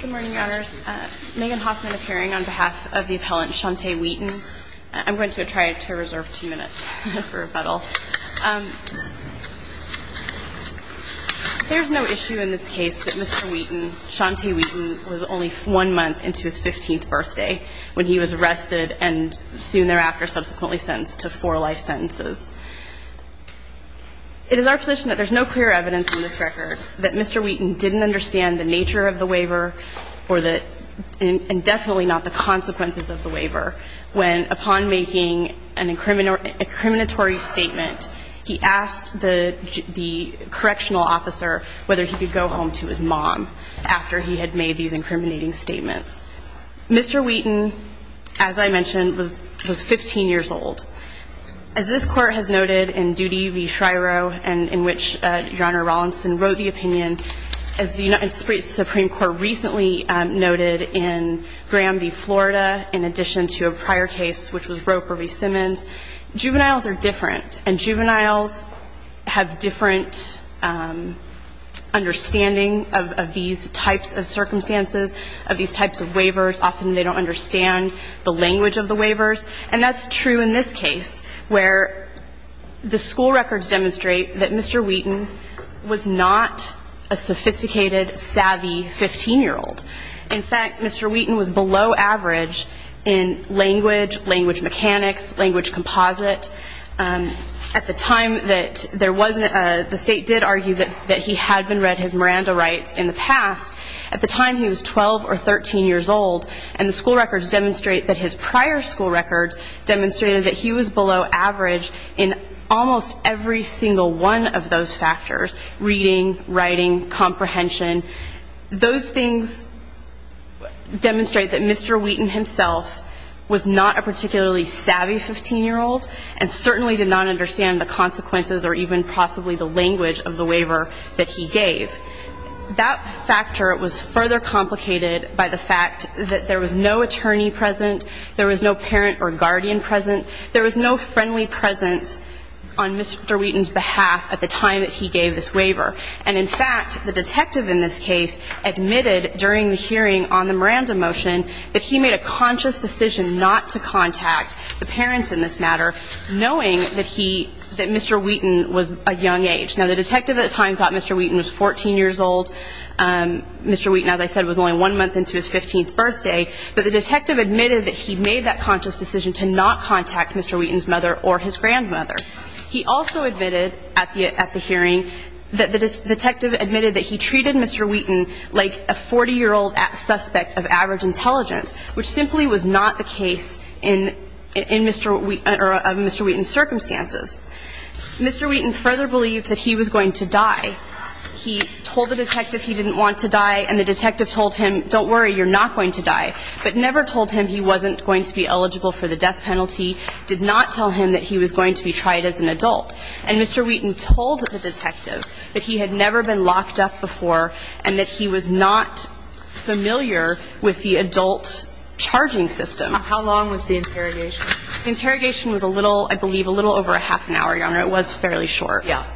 Good morning, Your Honors. Megan Hoffman appearing on behalf of the appellant Shauntay Wheaton. I'm going to try to reserve two minutes for rebuttal. There's no issue in this case that Mr. Wheaton, Shauntay Wheaton, was only one month into his 15th birthday when he was arrested and soon thereafter subsequently sentenced to four life sentences. It is our position that there's no clear evidence in this record that Mr. Wheaton didn't understand the nature of the waiver or the, and definitely not the consequences of the waiver, when upon making an incriminatory statement, he asked the correctional officer whether he could go home to his mom after he had made these incriminating statements. Mr. Wheaton, as I mentioned, was 15 years old. As this Court of Appeals has determined, Mr. Wheaton was not a juvenile. And as the Supreme Court has noted in Duty v. Shryo, in which Your Honor Rawlinson wrote the opinion, as the Supreme Court recently noted in Graham v. Florida, in addition to a prior case, which was Roper v. Simmons, juveniles are different, and juveniles have different understanding of these types of circumstances, of these types of waivers. Often they don't understand the language of the waivers. And that's true in this case, where the school records demonstrate that Mr. Wheaton was not a sophisticated, savvy 15-year-old. In fact, Mr. Wheaton was below average in language, language mechanics, language composite. At the time that there was a, the State did argue that he had been read his Miranda rights in the past. At the time he was 12 or 13 years old, and the school records demonstrate that his prior school records demonstrated that he was below average in almost every single one of those factors, reading, writing, comprehension. Those things demonstrate that Mr. Wheaton himself was not a particularly savvy 15-year-old, and certainly did not understand the consequences or even possibly the language of the waiver that he gave. That factor was further complicated by the fact that there was no attorney present, there was no parent or guardian present, there was no friendly presence on Mr. Wheaton's behalf at the time that he gave this waiver. And in fact, the detective in this case admitted during the hearing on the Miranda motion that he made a conscious decision not to contact the parents in this matter, knowing that he, that Mr. Wheaton was a young age. Now, the detective at the time thought Mr. Wheaton was 14 years old, Mr. Wheaton, as I said, was only one month into his 15th birthday, but the detective admitted that he made that conscious decision to not contact Mr. Wheaton's mother or his grandmother. He also admitted at the hearing that the detective admitted that he treated Mr. Wheaton like a 40-year-old suspect of average intelligence, which simply was not the case in Mr. Wheaton, or of Mr. Wheaton's circumstances. Mr. Wheaton further believed that he was going to die. He told the detective he didn't want to die, and the detective told him, don't worry, you're not going to die, but never told him he wasn't going to be eligible for the death penalty, did not tell him that he was going to be tried as an adult. And Mr. Wheaton told the detective that he had never been locked up before and that he was not familiar with the adult charging system. And he told Mr. Wheaton that he was going to die. How long was the interrogation? The interrogation was a little, I believe, a little over a half an hour, Your Honor. It was fairly short. Yeah.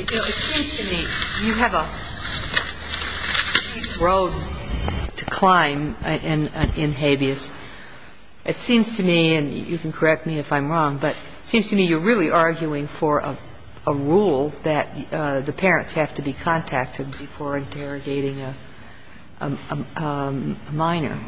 It seems to me you have a steep road to climb in habeas. It seems to me, and you can correct me if I'm wrong, but it seems to me you're really arguing for a rule that the parents have to be contacted before interrogating a minor.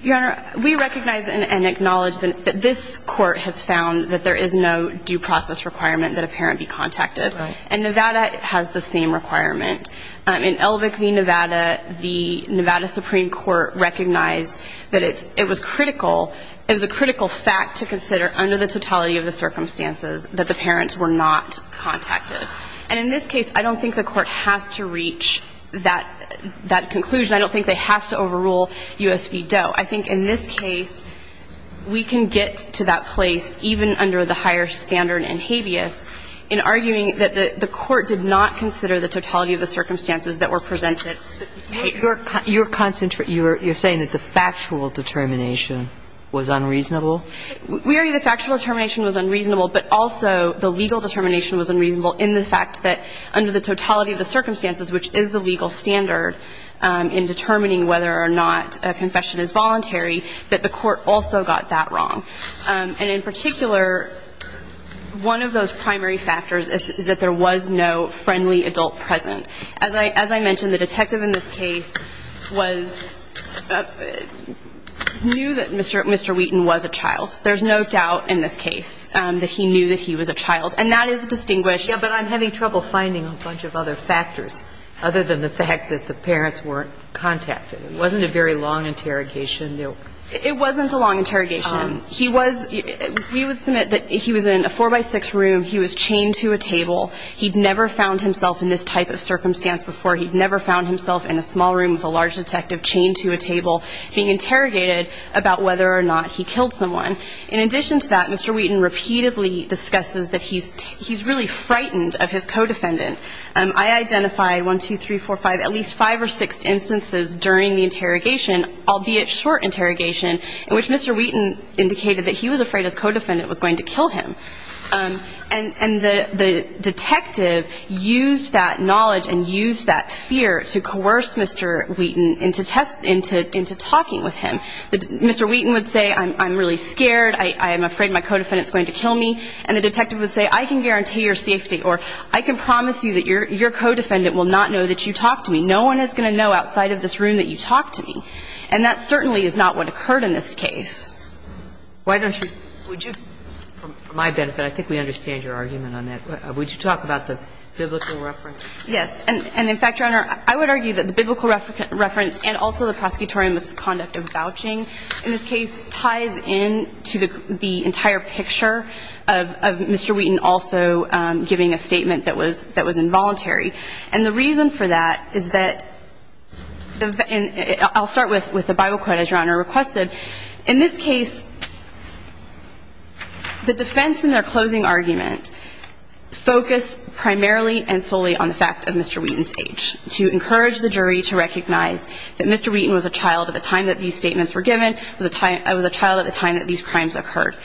Your Honor, we recognize and acknowledge that this Court has found that there is no due process requirement that a parent be contacted. And Nevada has the same requirement. In Elvick v. Nevada, the Nevada Supreme Court recognized that it was critical, it was a critical fact to consider under the totality of the circumstances that the parents were not contacted. And in this case, I don't think the Court has to reach that conclusion. I don't think they have to overrule U.S. v. Doe. I think in this case, we can get to that place even under the higher standard in habeas in arguing that the Court did not consider the totality of the circumstances that were presented. You're saying that the factual determination was unreasonable? We argue the factual determination was unreasonable, but also the legal determination was unreasonable in the fact that under the totality of the circumstances, which is the legal standard in determining whether or not a confession is voluntary, that the Court also got that wrong. And in particular, one of those primary factors is that there was no friendly adult present. As I mentioned, the detective in this case was ñ knew that Mr. Wheaton was a child. There's no doubt in this case that he knew that he was a child. And that is distinguished. Yeah, but I'm having trouble finding a bunch of other factors other than the fact that the parents weren't contacted. It wasn't a very long interrogation. It wasn't a long interrogation. He was ñ we would submit that he was in a 4-by-6 room. He was chained to a table. He'd never found himself in this type of circumstance before. He'd never found himself in a small room with a large detective chained to a table being interrogated about whether or not he killed someone. In addition to that, Mr. Wheaton repeatedly discusses that he's really frightened of his co-defendant. I identified 1, 2, 3, 4, 5, at least 5 or 6 instances during the interrogation, albeit short interrogation, in which Mr. Wheaton indicated that he was afraid his co-defendant was going to kill him. And the detective used that knowledge and used that fear to coerce Mr. Wheaton into talking with him. And he was able to do that. He was able to do that. Mr. Wheaton would say I'm really scared, I'm afraid my co-defendant is going to kill me. And the detective would say I can guarantee your safety or I can promise you that your co-defendant will not know that you talked to me. No one is going to know outside of this room that you talked to me. And that certainly is not what occurred in this case. Why don't you, would you, for my benefit, I think we understand your argument on that. Would you talk about the biblical reference? Yes. And in fact, Your Honor, I would argue that the biblical reference and also the prosecutorial misconduct of vouching in this case ties into the entire picture of Mr. Wheaton also giving a statement that was involuntary. And the reason for that is that, I'll start with the Bible quote as Your Honor requested. In this case, the defense in their closing argument focused primarily and solely on the fact of Mr. Wheaton's age to encourage the jury to recognize that Mr. Wheaton was a child at the time that these statements were given, was a child at the time that these crimes occurred.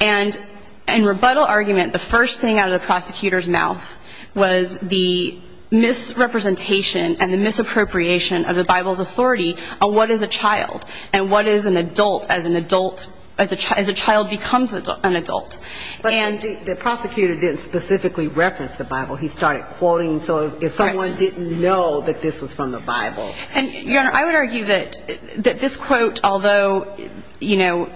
And in rebuttal argument, the first thing out of the prosecutor's mouth was the misrepresentation and the misappropriation of the Bible's authority on what is a child and what is an adult as an adult, as a child becomes an adult. But the prosecutor didn't specifically reference the Bible. He started quoting so if someone didn't know that this was from the Bible. And, Your Honor, I would argue that this quote, although, you know,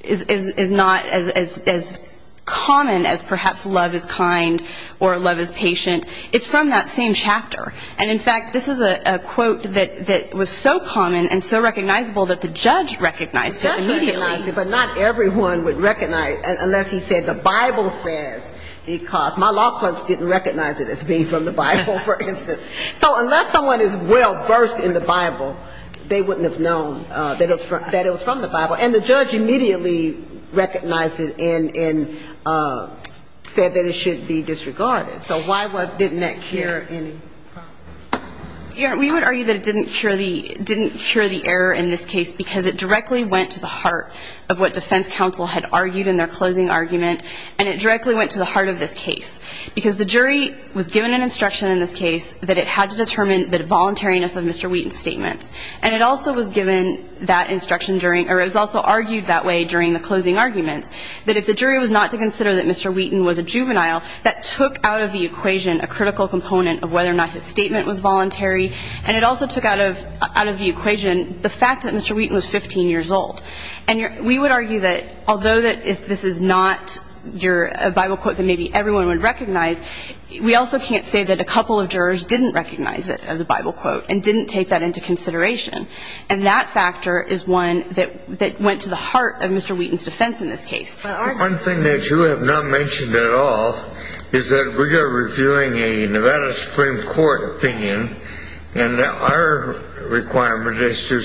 is not as common as perhaps love is kind or love is patient, it's from that same chapter. And, in fact, this is a quote that was so common and so recognizable that the judge recognized it immediately. But not everyone would recognize it unless he said the Bible says because my law clerks didn't recognize it as being from the Bible, for instance. So unless someone is well versed in the Bible, they wouldn't have known that it was from the Bible. And the judge immediately recognized it and said that it should be disregarded. So why didn't that cure any harm? Your Honor, we would argue that it didn't cure the error in this case because it directly went to the heart of what defense counsel had argued in their closing argument, and it directly went to the heart of this case. Because the jury was given an instruction in this case that it had to determine the voluntariness of Mr. Wheaton's statements. And it also was given that instruction during or it was also argued that way during the closing argument, that if the jury was not to consider that Mr. Wheaton was a critical component of whether or not his statement was voluntary. And it also took out of the equation the fact that Mr. Wheaton was 15 years old. And we would argue that although this is not a Bible quote that maybe everyone would recognize, we also can't say that a couple of jurors didn't recognize it as a Bible quote and didn't take that into consideration. And that factor is one that went to the heart of Mr. Wheaton's defense in this case. One thing that you have not mentioned at all is that we are reviewing a Nevada Supreme Court opinion, and our requirement is to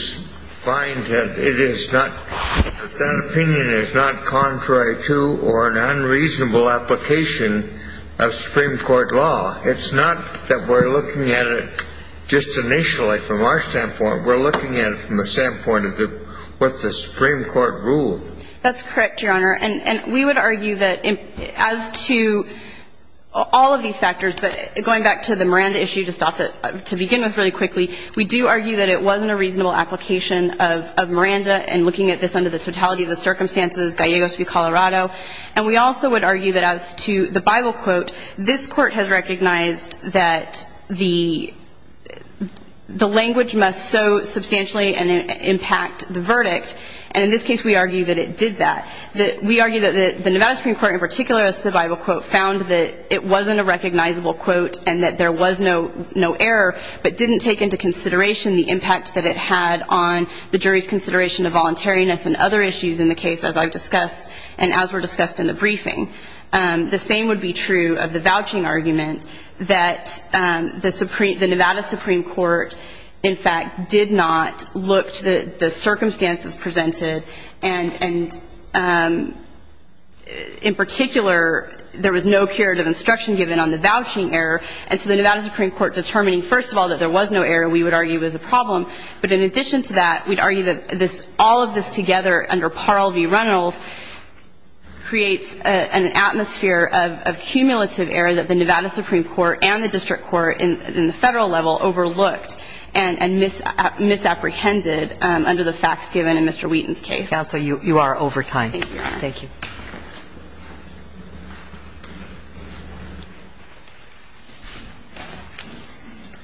find that it is not, that that opinion is not contrary to or an unreasonable application of Supreme Court law. It's not that we're looking at it just initially from our standpoint. We're looking at it from the standpoint of what the Supreme Court ruled. That's correct, Your Honor. And we would argue that as to all of these factors, but going back to the Miranda issue to stop it, to begin with really quickly, we do argue that it wasn't a reasonable application of Miranda, and looking at this under the totality of the circumstances, Gallegos v. Colorado. And we also would argue that as to the Bible quote, this Court has recognized that the language must so substantially impact the verdict. And in this case, we argue that it did that. We argue that the Nevada Supreme Court, in particular, as to the Bible quote, found that it wasn't a recognizable quote and that there was no error, but didn't take into consideration the impact that it had on the jury's consideration of voluntariness and other issues in the case, as I've discussed and as were discussed in the briefing. The same would be true of the vouching argument that the Nevada Supreme Court, in particular, there was no curative instruction given on the vouching error, and so the Nevada Supreme Court determining, first of all, that there was no error, we would argue was a problem. But in addition to that, we'd argue that all of this together under Parle v. Reynolds creates an atmosphere of cumulative error that the Nevada Supreme Court and the district court in the Federal level overlooked and misapprehended under the facts given in Mr. Wheaton's case. Counsel, you are over time. Thank you. Thank you.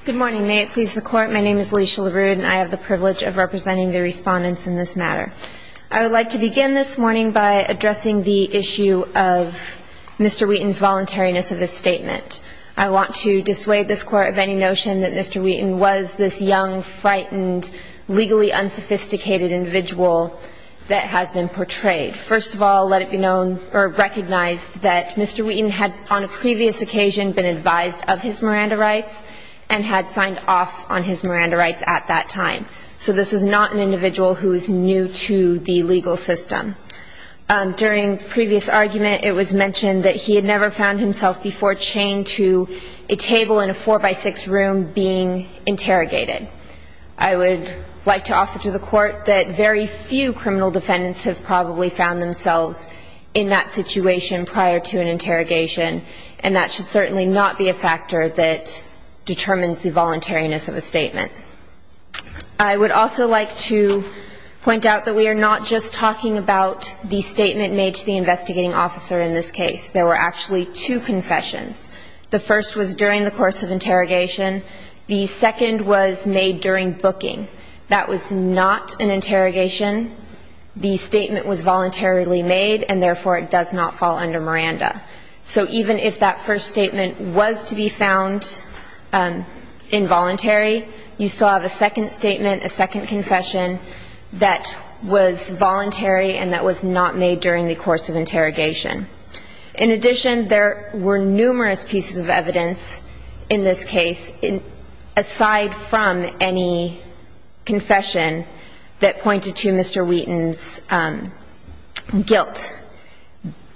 Good morning. May it please the Court, my name is Alicia LaRue and I have the privilege of representing the respondents in this matter. I would like to begin this morning by addressing the issue of Mr. Wheaton's voluntariness of this statement. I want to dissuade this Court of any notion that Mr. Wheaton was this young, frightened, legally unsophisticated individual that has been portrayed. First of all, let it be known or recognized that Mr. Wheaton had on a previous occasion been advised of his Miranda rights and had signed off on his Miranda rights at that time. So this was not an individual who was new to the legal system. During the previous argument, it was mentioned that he had never found himself before chained to a table in a four-by-six room being interrogated. I would like to offer to the Court that very few criminal defendants have probably found themselves in that situation prior to an interrogation, and that should certainly not be a factor that determines the voluntariness of a statement. I would also like to point out that we are not just talking about the statement made to the investigating officer in this case. There were actually two confessions. The first was during the course of interrogation. The second was made during booking. That was not an interrogation. The statement was voluntarily made, and therefore it does not fall under Miranda. So even if that first statement was to be found involuntary, you still have a second statement, a second confession that was voluntary and that was not made during the course of interrogation. In addition, there were numerous pieces of evidence in this case aside from any confession that pointed to Mr. Wheaton's guilt.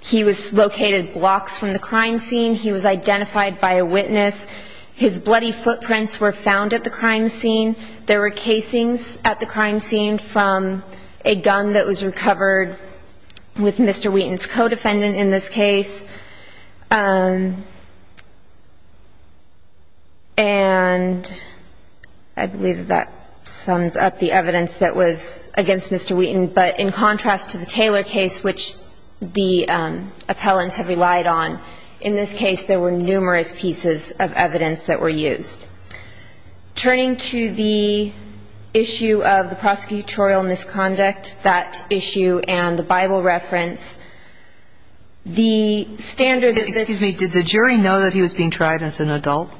He was located blocks from the crime scene. He was identified by a witness. His bloody footprints were found at the crime scene. There were casings at the crime scene from a gun that was recovered with Mr. Wheaton in this case. And I believe that sums up the evidence that was against Mr. Wheaton. But in contrast to the Taylor case, which the appellants have relied on, in this case there were numerous pieces of evidence that were used. Turning to the issue of the prosecutorial misconduct, that issue and the Bible reference, the standard that this ---- Excuse me. Did the jury know that he was being tried as an adult?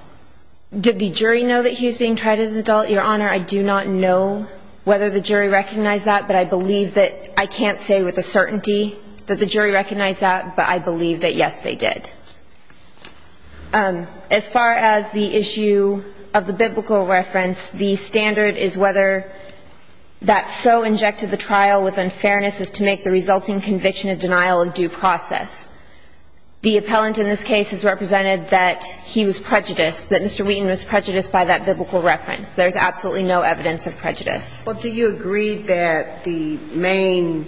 Did the jury know that he was being tried as an adult, Your Honor? I do not know whether the jury recognized that, but I believe that ---- I can't say with a certainty that the jury recognized that, but I believe that, yes, they did. As far as the issue of the biblical reference, the standard is whether that so The appellant in this case has represented that he was prejudiced, that Mr. Wheaton was prejudiced by that biblical reference. There's absolutely no evidence of prejudice. But do you agree that the main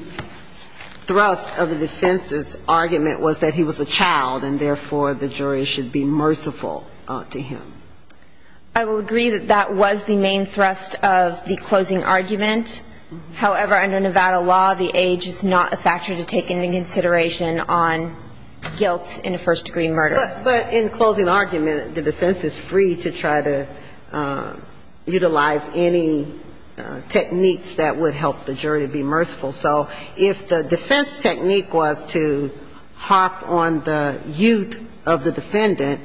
thrust of the defense's argument was that he was a child and, therefore, the jury should be merciful to him? I will agree that that was the main thrust of the closing argument. However, under Nevada law, the age is not a factor to take into consideration on guilt in a first-degree murder. But in closing argument, the defense is free to try to utilize any techniques that would help the jury to be merciful. So if the defense technique was to harp on the youth of the defendant,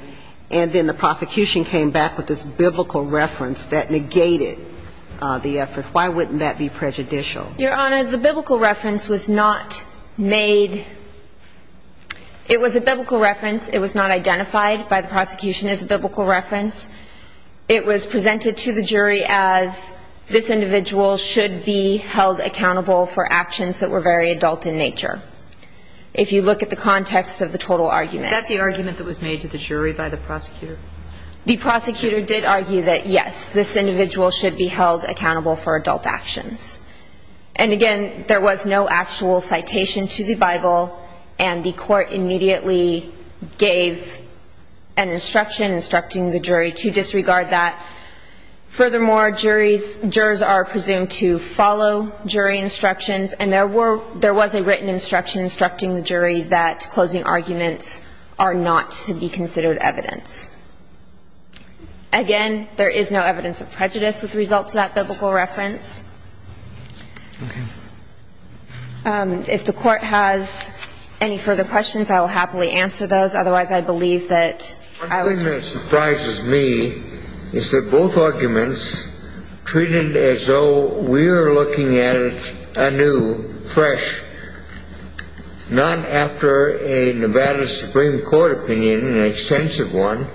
and then the prosecution came back with this biblical reference that negated the effort, why wouldn't that be prejudicial? Your Honor, the biblical reference was not made – it was a biblical reference. It was not identified by the prosecution as a biblical reference. It was presented to the jury as this individual should be held accountable for actions that were very adult in nature. If you look at the context of the total argument. Is that the argument that was made to the jury by the prosecutor? The prosecutor did argue that, yes, this individual should be held accountable for adult actions. And again, there was no actual citation to the Bible, and the court immediately gave an instruction instructing the jury to disregard that. Furthermore, jurors are presumed to follow jury instructions, and there was a written instruction instructing the jury that closing arguments are not to be considered evidence. Again, there is no evidence of prejudice with result to that biblical reference. Okay. If the court has any further questions, I will happily answer those. Otherwise, I believe that – One thing that surprises me is that both arguments treated as though we are looking at it anew, fresh, not after a Nevada Supreme Court opinion, an extensive one,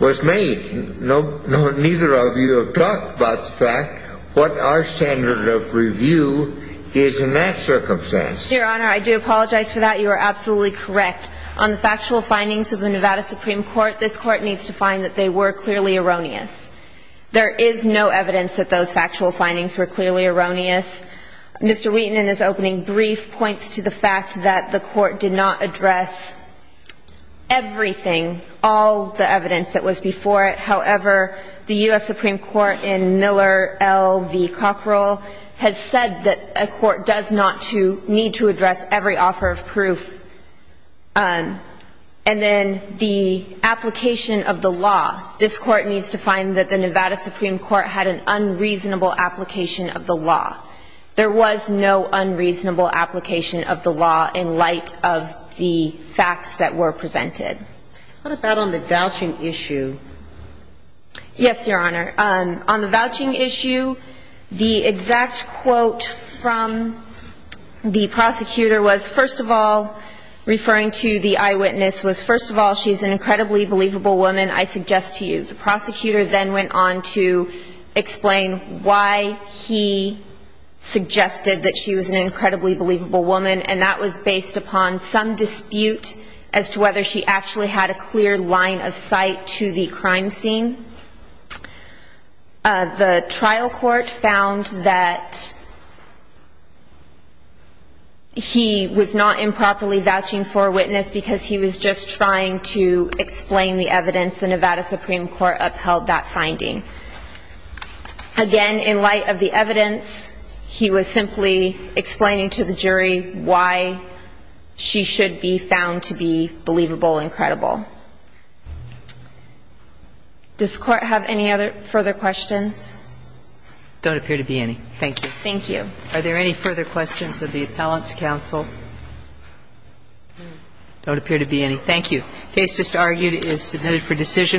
was made. Neither of you have talked about the fact what our standard of review is in that circumstance. Your Honor, I do apologize for that. You are absolutely correct. On the factual findings of the Nevada Supreme Court, this court needs to find that they were clearly erroneous. There is no evidence that those factual findings were clearly erroneous. Mr. Wheaton, in his opening brief, points to the fact that the court did not address everything, all the evidence that was before it. However, the U.S. Supreme Court in Miller v. Cockrell has said that a court does not need to address every offer of proof. And then the application of the law, this court needs to find that the Nevada Supreme Court had an unreasonable application of the law. There was no unreasonable application of the law in light of the facts that were presented. What about on the vouching issue? Yes, Your Honor. On the vouching issue, the exact quote from the prosecutor was, first of all, referring to the eyewitness, was, first of all, she's an incredibly believable woman, I suggest to you. The prosecutor then went on to explain why he suggested that she was an incredibly believable woman, and that was based upon some dispute as to whether she actually had a clear line of sight to the crime scene. The trial court found that he was not improperly vouching for a witness because he was just trying to explain the evidence. The Nevada Supreme Court upheld that finding. Again, in light of the evidence, he was simply explaining to the jury why she should be found to be believable and credible. Does the Court have any other further questions? There don't appear to be any. Thank you. Thank you. Are there any further questions of the appellant's counsel? There don't appear to be any. Thank you. The case just argued is submitted for decision.